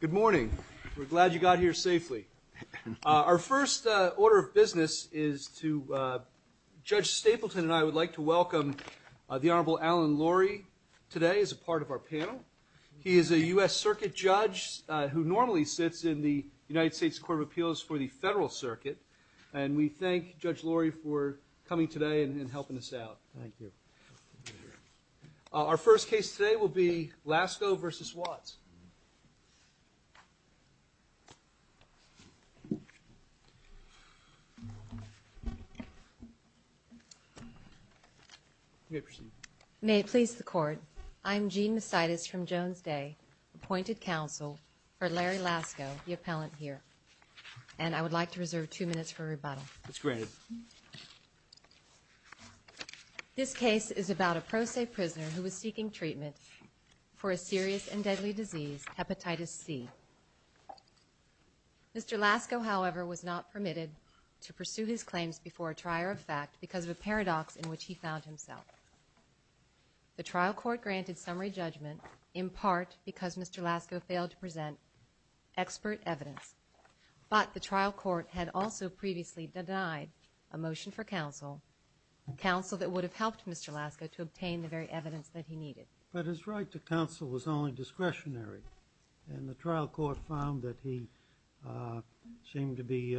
Good morning. We're glad you got here safely. Our first order of business is to, Judge Stapleton and I would like to welcome the Honorable Alan Laurie today as a part of our panel. He is a U.S. Circuit Judge who normally sits in the United States Court of Appeals for helping us out. Thank you. Our first case today will be Lasko v. Watts. May I proceed? May it please the Court. I'm Jean Macidas from Jones Day, appointed counsel for Larry Lasko, the appellant here. And I would like to reserve two minutes for rebuttal. It's granted. This case is about a pro se prisoner who was seeking treatment for a serious and deadly disease, hepatitis C. Mr. Lasko, however, was not permitted to pursue his claims before a trier of fact because of a paradox in which he found himself. The trial court granted summary judgment in part because Mr. Lasko failed to present expert evidence. But the trial court had also previously denied a motion for counsel, counsel that would have helped Mr. Lasko to obtain the very evidence that he needed. But his right to counsel was only discretionary and the trial court found that he seemed to be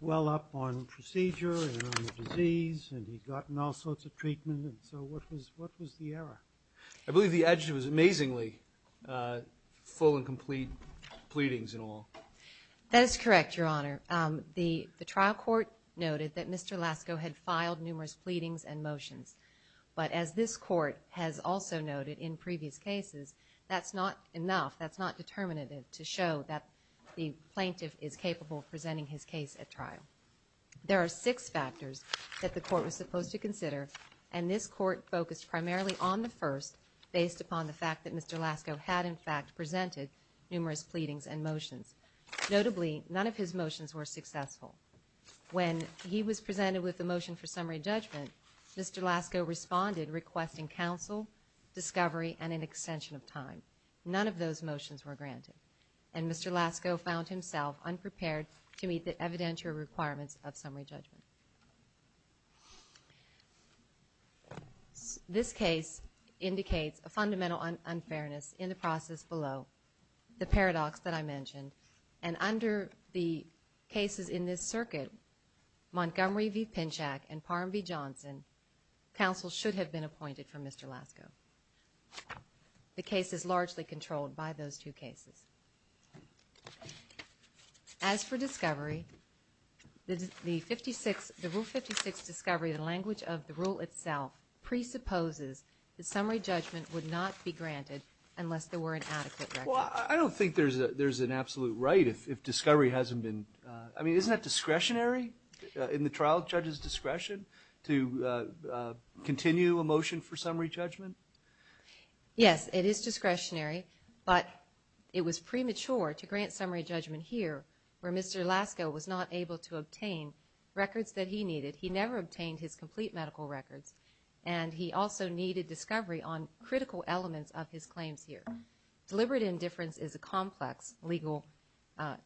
well up on procedure and on the disease and he'd gotten all sorts of treatment and so what was the error? I believe the adjective was amazingly full and complete pleadings in all. That is correct, Your Honor. The trial court noted that Mr. Lasko had filed numerous pleadings and motions. But as this court has also noted in previous cases, that's not enough, that's not determinative to show that the plaintiff is capable of presenting his case at trial. There are six factors that the court was supposed to consider and this court focused primarily on the first based upon the fact that Mr. Lasko had in fact presented numerous pleadings and motions. Notably, none of his motions were successful. When he was presented with a motion for summary judgment, Mr. Lasko responded requesting counsel, discovery and an extension of time. None of those motions were granted and Mr. Lasko found himself unprepared to meet the evidential requirements of summary judgment. This case indicates a fundamental unfairness in the process below, the paradox that I mentioned. And under the cases in this circuit, Montgomery v. Pinchak and Parham v. Johnson, counsel should have been appointed for Mr. Lasko. The case is largely controlled by those two cases. As for discovery, the rule 56 discovery, the language of the rule itself presupposes that summary judgment would not be granted unless there were an adequate record. Well, I don't think there's an absolute right if discovery hasn't been, I mean, isn't that discretionary in the trial judge's discretion to continue a motion for summary judgment? Yes, it is discretionary, but it was premature to grant summary judgment here where Mr. Lasko was not able to obtain records that he needed. He never obtained his complete medical records and he also needed discovery on critical elements of his claims here. Deliberate indifference is a complex legal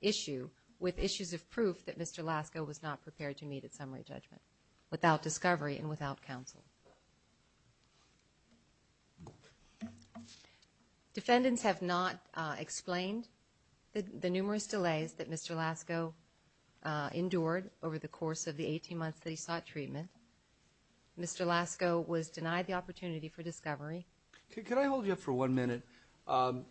issue with issues of proof that Mr. Lasko was not prepared to meet at summary judgment without discovery and without counsel. Defendants have not explained the numerous delays that Mr. Lasko endured over the course of the 18 months that he sought treatment. Mr. Lasko was denied the opportunity for discovery. Could I hold you up for one minute? On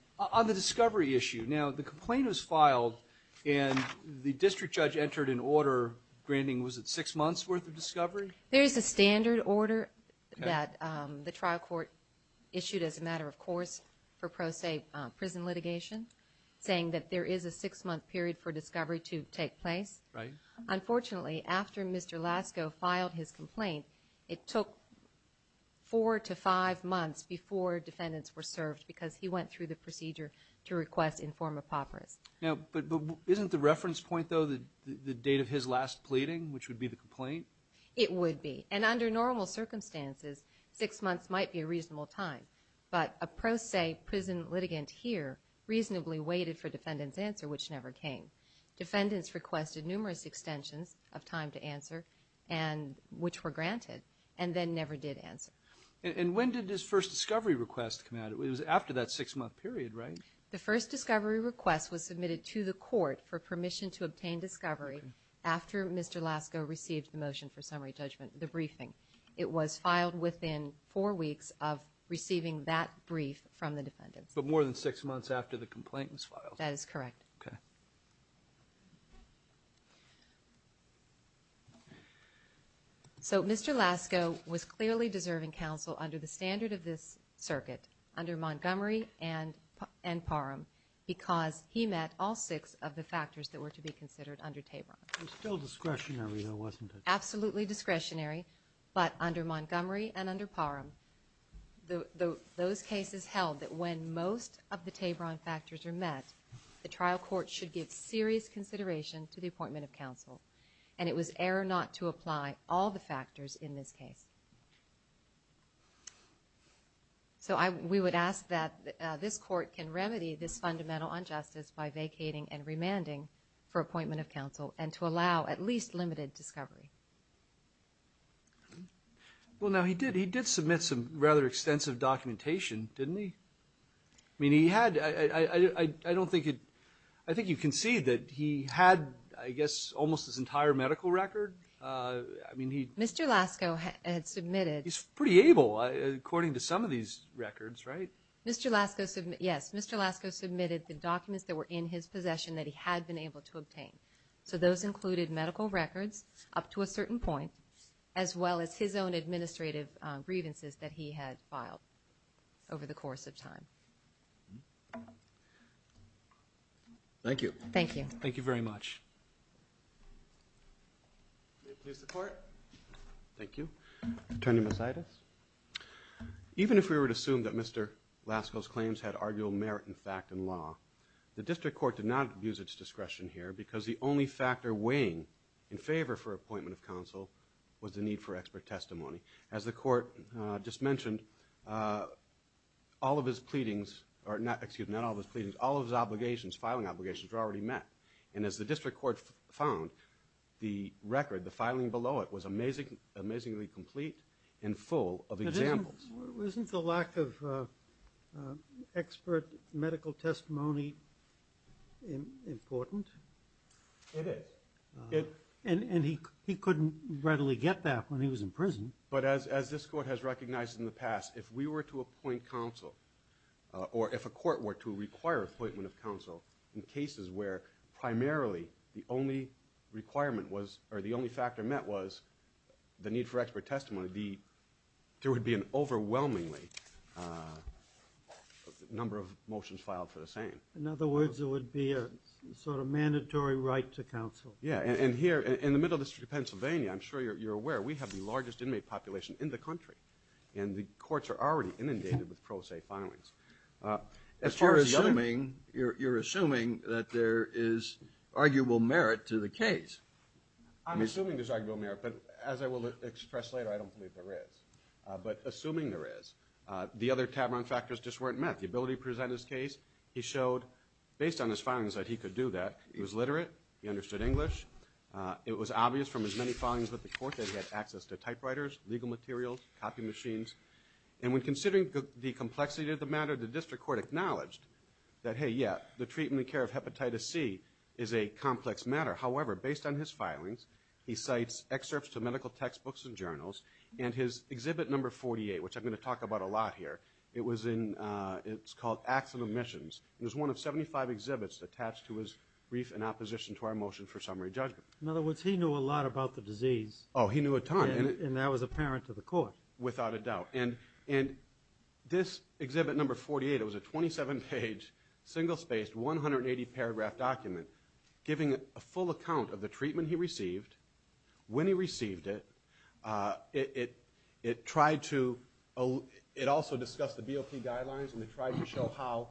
the discovery issue, now, the complaint was filed and the district judge entered an order granting, was it, six months' worth of discovery? There is a standard order that the trial court issued as a matter of course for pro se prison litigation saying that there is a six-month period for discovery to take place. Right. Unfortunately, after Mr. Lasko filed his complaint, it took four to five months before defendants were served because he went through the procedure to request informed apocryphal. Now, but isn't the reference point, though, the date of his last pleading, which would be the complaint? It would be. And under normal circumstances, six months might be a reasonable time. But a pro se prison litigant here reasonably waited for defendants' answer, which never came. Defendants requested numerous extensions of time to answer and which were granted and then never did answer. And when did his first discovery request come out? It was after that six-month period, right? The first discovery request was submitted to the court for permission to obtain discovery after Mr. Lasko received the motion for summary judgment, the briefing. It was filed within four weeks of receiving that brief from the defendants. But more than six months after the complaint was filed. That is correct. Okay. Okay. So Mr. Lasko was clearly deserving counsel under the standard of this circuit, under Montgomery and Parham, because he met all six of the factors that were to be considered under Tabron. It was still discretionary, though, wasn't it? Absolutely discretionary. But under Montgomery and under Parham, those cases held that when most of the Tabron factors are met, the trial court should give serious consideration to the appointment of counsel. And it was error not to apply all the factors in this case. So we would ask that this court can remedy this fundamental injustice by vacating and remanding for appointment of counsel and to allow at least limited discovery. Well, now, he did submit some rather extensive documentation, didn't he? I mean, he had, I don't think it, I think you can see that he had, I guess, almost his entire medical record. I mean, he. Mr. Lasko had submitted. He's pretty able, according to some of these records, right? Mr. Lasko, yes, Mr. Lasko submitted the documents that were in his possession that he had been able to obtain. So those included medical records up to a certain point, as well as his own administrative grievances that he had filed over the course of time. Thank you. Thank you. Thank you very much. May it please the Court. Thank you. Attorney Mosaitis. Even if we would assume that Mr. Lasko's claims had arguable merit in fact and law, the district court did not use its discretion here because the only factor weighing in favor for appointment of counsel was the need for expert testimony. As the court just mentioned, all of his pleadings, or excuse me, not all of his pleadings, all of his obligations, filing obligations were already met. And as the district court found, the record, the filing below it, was amazingly complete and full of examples. Isn't the lack of expert medical testimony important? It is. And he couldn't readily get that when he was in prison. But as this court has recognized in the past, if we were to appoint counsel, or if a court were to require appointment of counsel in cases where primarily the only requirement was, or the only factor met was the need for expert testimony, there would be an overwhelmingly number of motions filed for the same. In other words, it would be a sort of mandatory right to counsel. Yeah. And here, in the middle district of Pennsylvania, I'm sure you're aware, we have the largest inmate population in the country. And the courts are already inundated with pro se filings. But you're assuming that there is arguable merit to the case. I'm assuming there's arguable merit. But as I will express later, I don't believe there is. But assuming there is, the other Tavron factors just weren't met. The ability to present his case, he showed, based on his filings, that he could do that. He was literate. He understood English. It was obvious from his many filings with the court that he had access to typewriters, legal materials, copy machines. And when considering the complexity of the matter, the district court acknowledged that, hey, yeah, the treatment and care of hepatitis C is a complex matter. However, based on his filings, he cites excerpts to medical textbooks and journals. And his exhibit number 48, which I'm going to talk about a lot here, it's called Acts of Omissions. It was one of 75 exhibits attached to his brief in opposition to our motion for summary judgment. In other words, he knew a lot about the disease. Oh, he knew a ton. And that was apparent to the court. Without a doubt. And this exhibit number 48, it was a 27-page, single-spaced, 180-paragraph document, giving a full account of the treatment he received, when he received it. It tried to also discuss the BOP guidelines, and it tried to show how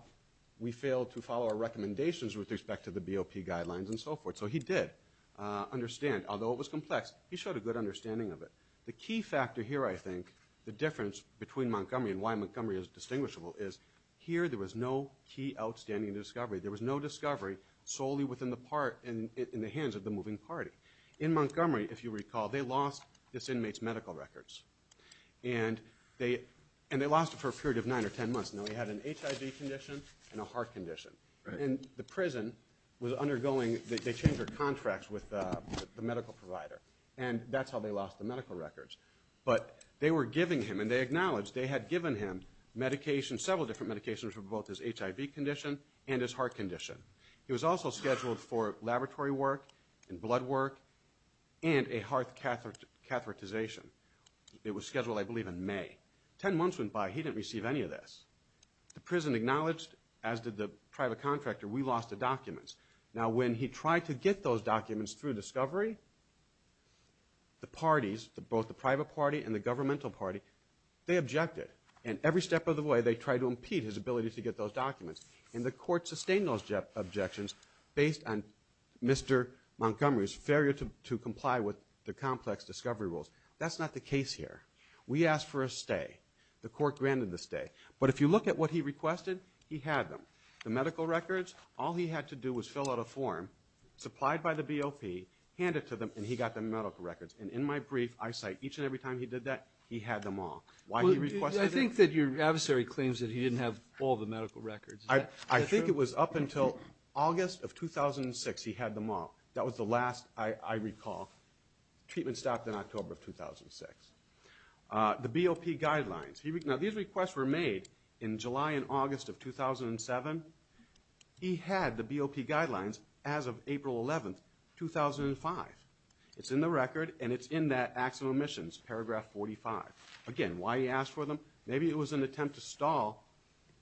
we failed to follow our recommendations with respect to the BOP guidelines and so forth. So he did understand. Although it was complex, he showed a good understanding of it. The key factor here, I think, the difference between Montgomery and why Montgomery is distinguishable, is here there was no key outstanding discovery. There was no discovery solely within the hands of the moving party. In Montgomery, if you recall, they lost this inmate's medical records. And they lost it for a period of nine or ten months. Now, he had an HIV condition and a heart condition. And the prison was undergoing, they changed their contracts with the medical provider. And that's how they lost the medical records. But they were giving him, and they acknowledged they had given him medications, several different medications for both his HIV condition and his heart condition. He was also scheduled for laboratory work and blood work and a heart catheterization. It was scheduled, I believe, in May. Ten months went by. He didn't receive any of this. The prison acknowledged, as did the private contractor, we lost the documents. Now, when he tried to get those documents through discovery, the parties, both the private party and the governmental party, they objected. And every step of the way, they tried to impede his ability to get those documents. And the court sustained those objections based on Mr. Montgomery's failure to comply with the complex discovery rules. That's not the case here. We asked for a stay. The court granted the stay. But if you look at what he requested, he had them. The medical records, all he had to do was fill out a form supplied by the BOP, hand it to them, and he got the medical records. And in my brief, I cite each and every time he did that, he had them all. Why he requested it? I think that your adversary claims that he didn't have all the medical records. Is that true? I think it was up until August of 2006 he had them all. That was the last I recall. Treatment stopped in October of 2006. The BOP guidelines. Now, these requests were made in July and August of 2007. He had the BOP guidelines as of April 11th, 2005. It's in the record, and it's in that acts of omissions, paragraph 45. Again, why he asked for them? Maybe it was an attempt to stall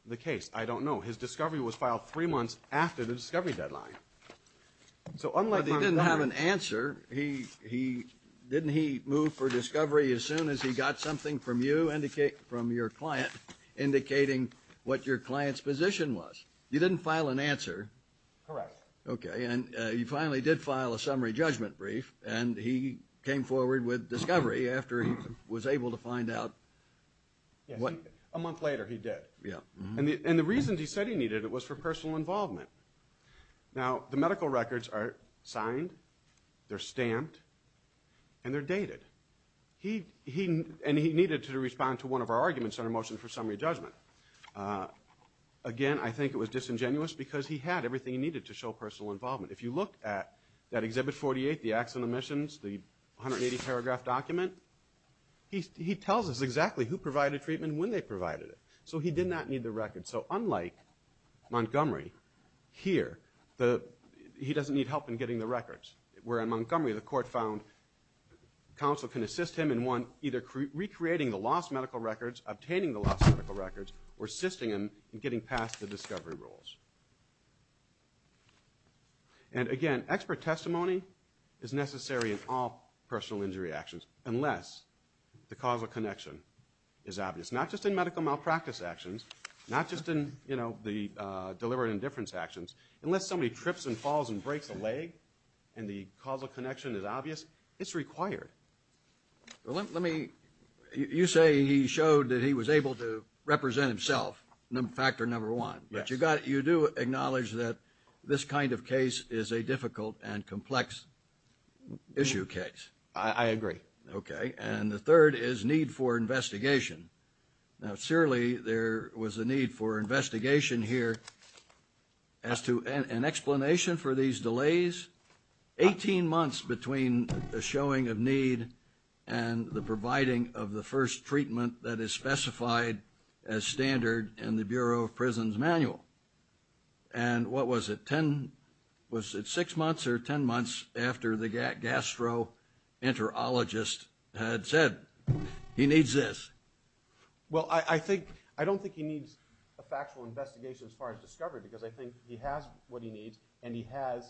the case. I don't know. His discovery was filed three months after the discovery deadline. But he didn't have an answer. Didn't he move for discovery as soon as he got something from you, from your client, indicating what your client's position was? You didn't file an answer. Correct. Okay. And you finally did file a summary judgment brief, and he came forward with discovery after he was able to find out. A month later, he did. And the reasons he said he needed it was for personal involvement. Now, the medical records are signed, they're stamped, and they're dated. And he needed to respond to one of our arguments on a motion for summary judgment. Again, I think it was disingenuous because he had everything he needed to show personal involvement. If you look at that Exhibit 48, the acts and omissions, the 180-paragraph document, he tells us exactly who provided treatment and when they provided it. So he did not need the record. And so unlike Montgomery here, he doesn't need help in getting the records. Where in Montgomery, the court found counsel can assist him in either recreating the lost medical records, obtaining the lost medical records, or assisting him in getting past the discovery rules. And again, expert testimony is necessary in all personal injury actions unless the causal connection is obvious. Not just in medical malpractice actions, not just in the deliberate indifference actions. Unless somebody trips and falls and breaks a leg and the causal connection is obvious, it's required. You say he showed that he was able to represent himself, factor number one. Yes. But you do acknowledge that this kind of case is a difficult and complex issue case. I agree. Okay. And the third is need for investigation. Now, surely there was a need for investigation here. As to an explanation for these delays, 18 months between a showing of need and the providing of the first treatment that is specified as standard in the Bureau of Prisons manual. And what was it, six months or ten months after the gastroenterologist had said, he needs this? Well, I don't think he needs a factual investigation as far as discovery because I think he has what he needs and he has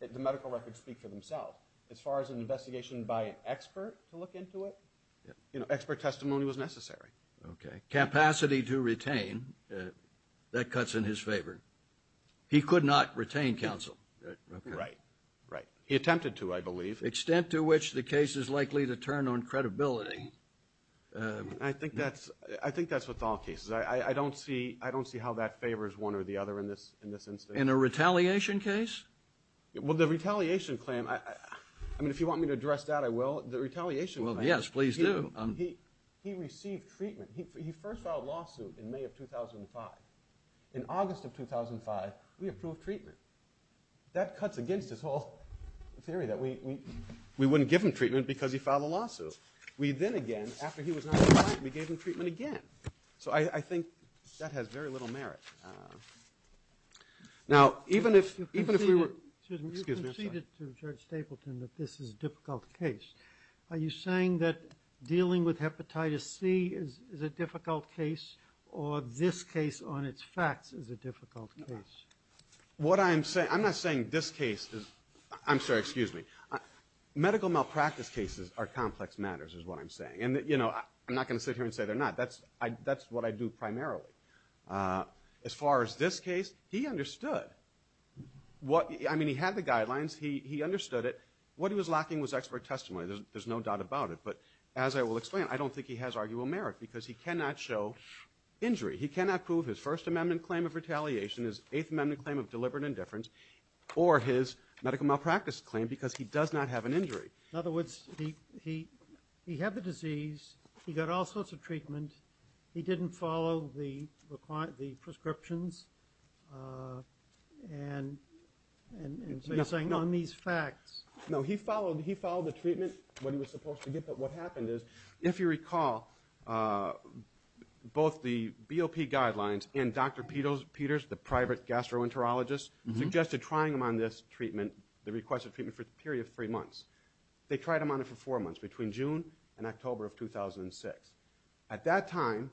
the medical records speak for themselves. As far as an investigation by an expert to look into it, expert testimony was necessary. Okay. Capacity to retain, that cuts in his favor. He could not retain counsel. Right. He attempted to, I believe. Extent to which the case is likely to turn on credibility. I think that's with all cases. I don't see how that favors one or the other in this instance. In a retaliation case? Well, the retaliation claim, I mean, if you want me to address that, I will. The retaliation claim. Well, yes, please do. He received treatment. He first filed a lawsuit in May of 2005. In August of 2005, we approved treatment. That cuts against this whole theory that we wouldn't give him treatment because he filed a lawsuit. We then again, after he was notified, we gave him treatment again. So I think that has very little merit. Now, even if we were to, excuse me, I'm sorry. You conceded to Judge Stapleton that this is a difficult case. Are you saying that dealing with Hepatitis C is a difficult case or this case on its facts is a difficult case? What I'm saying, I'm not saying this case is, I'm sorry, excuse me. Medical malpractice cases are complex matters is what I'm saying. And, you know, I'm not going to sit here and say they're not. That's what I do primarily. As far as this case, he understood. I mean, he had the guidelines. He understood it. What he was lacking was expert testimony. There's no doubt about it. But as I will explain, I don't think he has arguable merit because he cannot show injury. He cannot prove his First Amendment claim of retaliation, his Eighth Amendment claim of deliberate indifference, or his medical malpractice claim because he does not have an injury. In other words, he had the disease. He got all sorts of treatment. He didn't follow the prescriptions. And so you're saying on these facts. No, he followed the treatment, what he was supposed to get. But what happened is, if you recall, both the BOP guidelines and Dr. Peters, the private gastroenterologist, suggested trying him on this treatment, the requested treatment, for a period of three months. They tried him on it for four months, between June and October of 2006. At that time,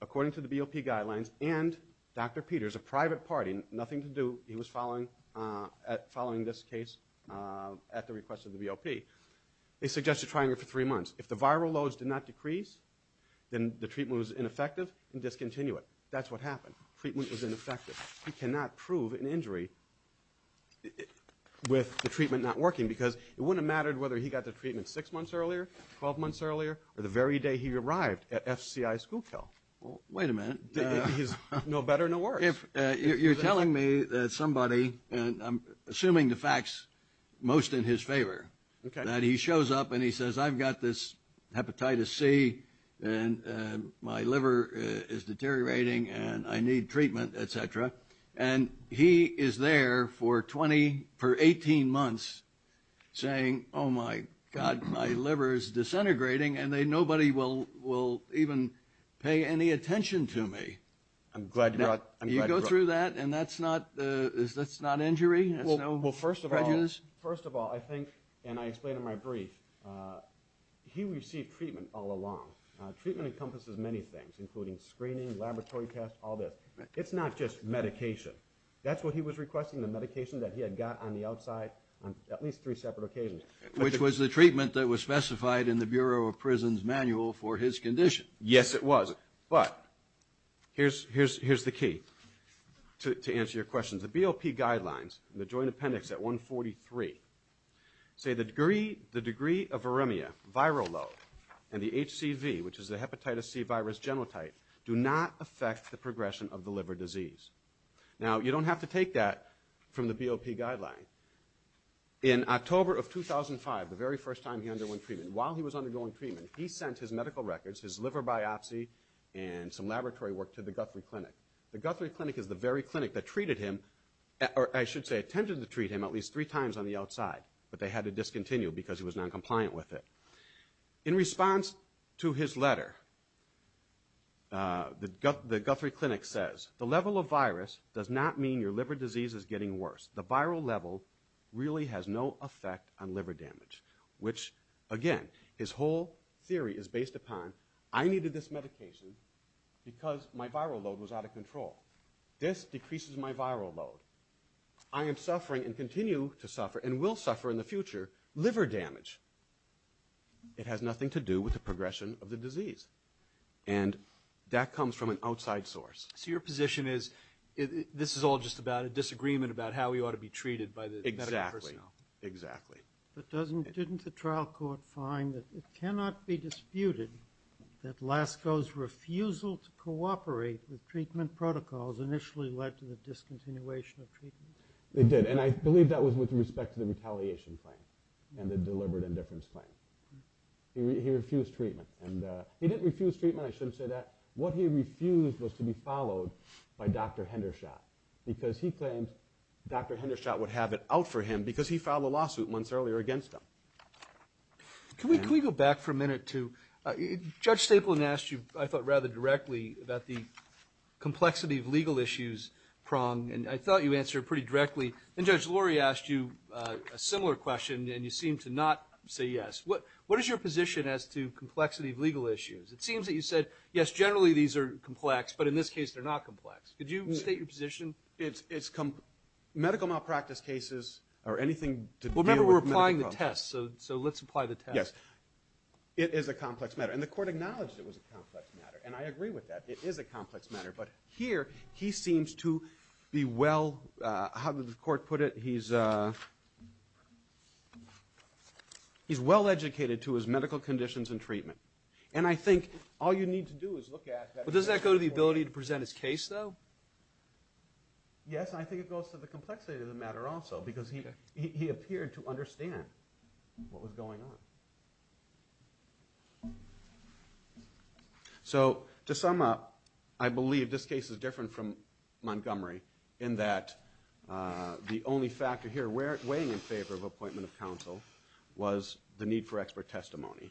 according to the BOP guidelines and Dr. Peters, a private party, nothing to do, he was following this case at the request of the BOP, they suggested trying him for three months. If the viral loads did not decrease, then the treatment was ineffective and discontinued. That's what happened. Treatment was ineffective. He cannot prove an injury with the treatment not working because it wouldn't have mattered whether he got the treatment six months earlier, 12 months earlier, or the very day he arrived at FCI Schoolkill. Wait a minute. He's no better, no worse. You're telling me that somebody, and I'm assuming the facts most in his favor, that he shows up and he says, I've got this hepatitis C, and my liver is deteriorating, and I need treatment, et cetera. And he is there for 18 months saying, oh, my God, my liver is disintegrating, and nobody will even pay any attention to me. I'm glad you brought it up. You go through that, and that's not injury? Well, first of all, I think, and I explained in my brief, he received treatment all along. Treatment encompasses many things, including screening, laboratory tests, all this. It's not just medication. That's what he was requesting, the medication that he had got on the outside on at least three separate occasions. Which was the treatment that was specified in the Bureau of Prisons manual for his condition. Yes, it was. But here's the key to answer your question. The BOP guidelines in the joint appendix at 143 say the degree of viremia, viral load, and the HCV, which is the hepatitis C virus genotype, do not affect the progression of the liver disease. Now, you don't have to take that from the BOP guideline. In October of 2005, the very first time he underwent treatment, while he was undergoing treatment, he sent his medical records, his liver biopsy, and some laboratory work to the Guthrie Clinic. The Guthrie Clinic is the very clinic that treated him, or I should say, attempted to treat him at least three times on the outside, but they had to discontinue because he was noncompliant with it. In response to his letter, the Guthrie Clinic says, the level of virus does not mean your liver disease is getting worse. The viral level really has no effect on liver damage. Which, again, his whole theory is based upon, I needed this medication because my viral load was out of control. This decreases my viral load. I am suffering, and continue to suffer, and will suffer in the future, liver damage. It has nothing to do with the progression of the disease. And that comes from an outside source. So your position is, this is all just about a disagreement about how we ought to be treated by the medical personnel. Exactly. Exactly. But didn't the trial court find that it cannot be disputed that Lasko's refusal to cooperate with treatment protocols initially led to the discontinuation of treatment? It did. And I believe that was with respect to the retaliation claim and the deliberate indifference claim. He refused treatment. He didn't refuse treatment. I shouldn't say that. What he refused was to be followed by Dr. Hendershot because he claimed Dr. Hendershot would have it out for him because he filed a lawsuit months earlier against him. Can we go back for a minute to, Judge Stapleton asked you, I thought rather directly, about the complexity of legal issues prong, and I thought you answered pretty directly. Then Judge Lurie asked you a similar question and you seemed to not say yes. What is your position as to complexity of legal issues? It seems that you said, yes, generally these are complex, but in this case they're not complex. Could you state your position? Medical malpractice cases are anything to do with medical problems. Remember, we're applying the test, so let's apply the test. Yes. It is a complex matter. And the court acknowledged it was a complex matter, and I agree with that. It is a complex matter. But here he seems to be well... How did the court put it? He's well-educated to his medical conditions and treatment. And I think all you need to do is look at... But does that go to the ability to present his case, though? Yes, I think it goes to the complexity of the matter also because he appeared to understand what was going on. So to sum up, I believe this case is different from Montgomery in that the only factor here weighing in favor of appointment of counsel was the need for expert testimony.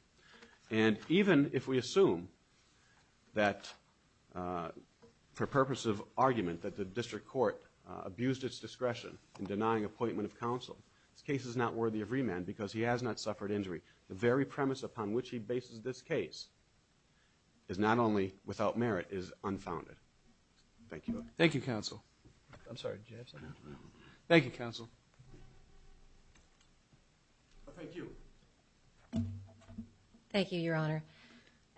And even if we assume that for purposes of argument that the district court abused its discretion in denying appointment of counsel, this case is not worthy of remand because he has not suffered injury. The very premise upon which he bases this case is not only without merit, it is unfounded. Thank you. Thank you, counsel. I'm sorry, did you have something? No. Thank you, counsel. Thank you. Thank you, Your Honor.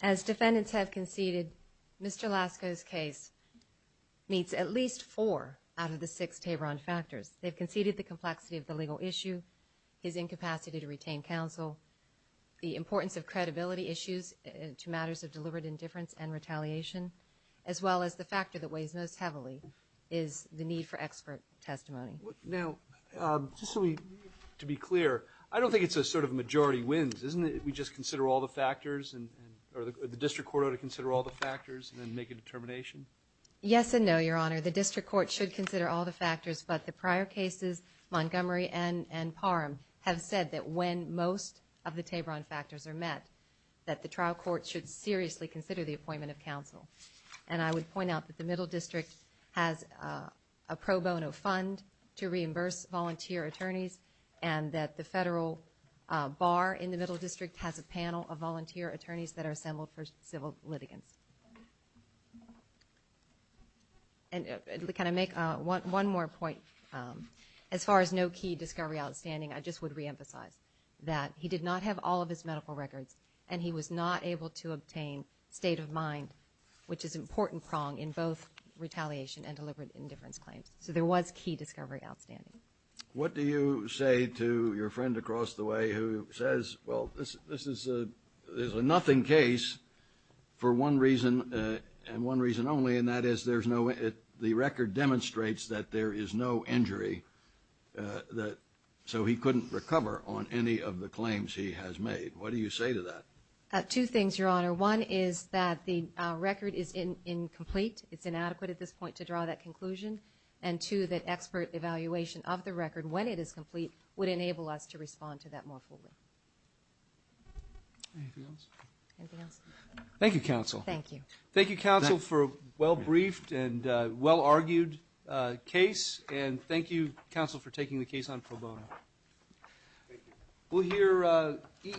As defendants have conceded, Mr. Lasko's case meets at least four out of the six Tabron factors. They've conceded the complexity of the legal issue, his incapacity to retain counsel, the importance of credibility issues to matters of deliberate indifference and retaliation, as well as the factor that weighs most heavily is the need for expert testimony. Now, just so we can be clear, I don't think it's a sort of majority wins, isn't it? We just consider all the factors, or the district court ought to consider all the factors and then make a determination? Yes and no, Your Honor. The district court should consider all the factors, but the prior cases, Montgomery and Parham, have said that when most of the Tabron factors are met, that the trial court should seriously consider the appointment of counsel. And I would point out that the Middle District has a pro bono fund to reimburse volunteer attorneys and that the federal bar in the Middle District has a panel of volunteer attorneys that are assembled for civil litigants. And can I make one more point? As far as no key discovery outstanding, I just would reemphasize that he did not have all of his medical records and he was not able to obtain state of mind, which is an important prong in both retaliation and deliberate indifference claims. So there was key discovery outstanding. What do you say to your friend across the way who says, well, this is a nothing case for one reason and one reason only, and that is the record demonstrates that there is no injury, so he couldn't recover on any of the claims he has made. What do you say to that? Two things, Your Honor. One is that the record is incomplete. It's inadequate at this point to draw that conclusion. And two, that expert evaluation of the record when it is complete would enable us to respond to that more fully. Anything else? Anything else? Thank you, Counsel. Thank you. Thank you, Counsel, for a well-briefed and well-argued case, and thank you, Counsel, for taking the case on pro bono. Thank you.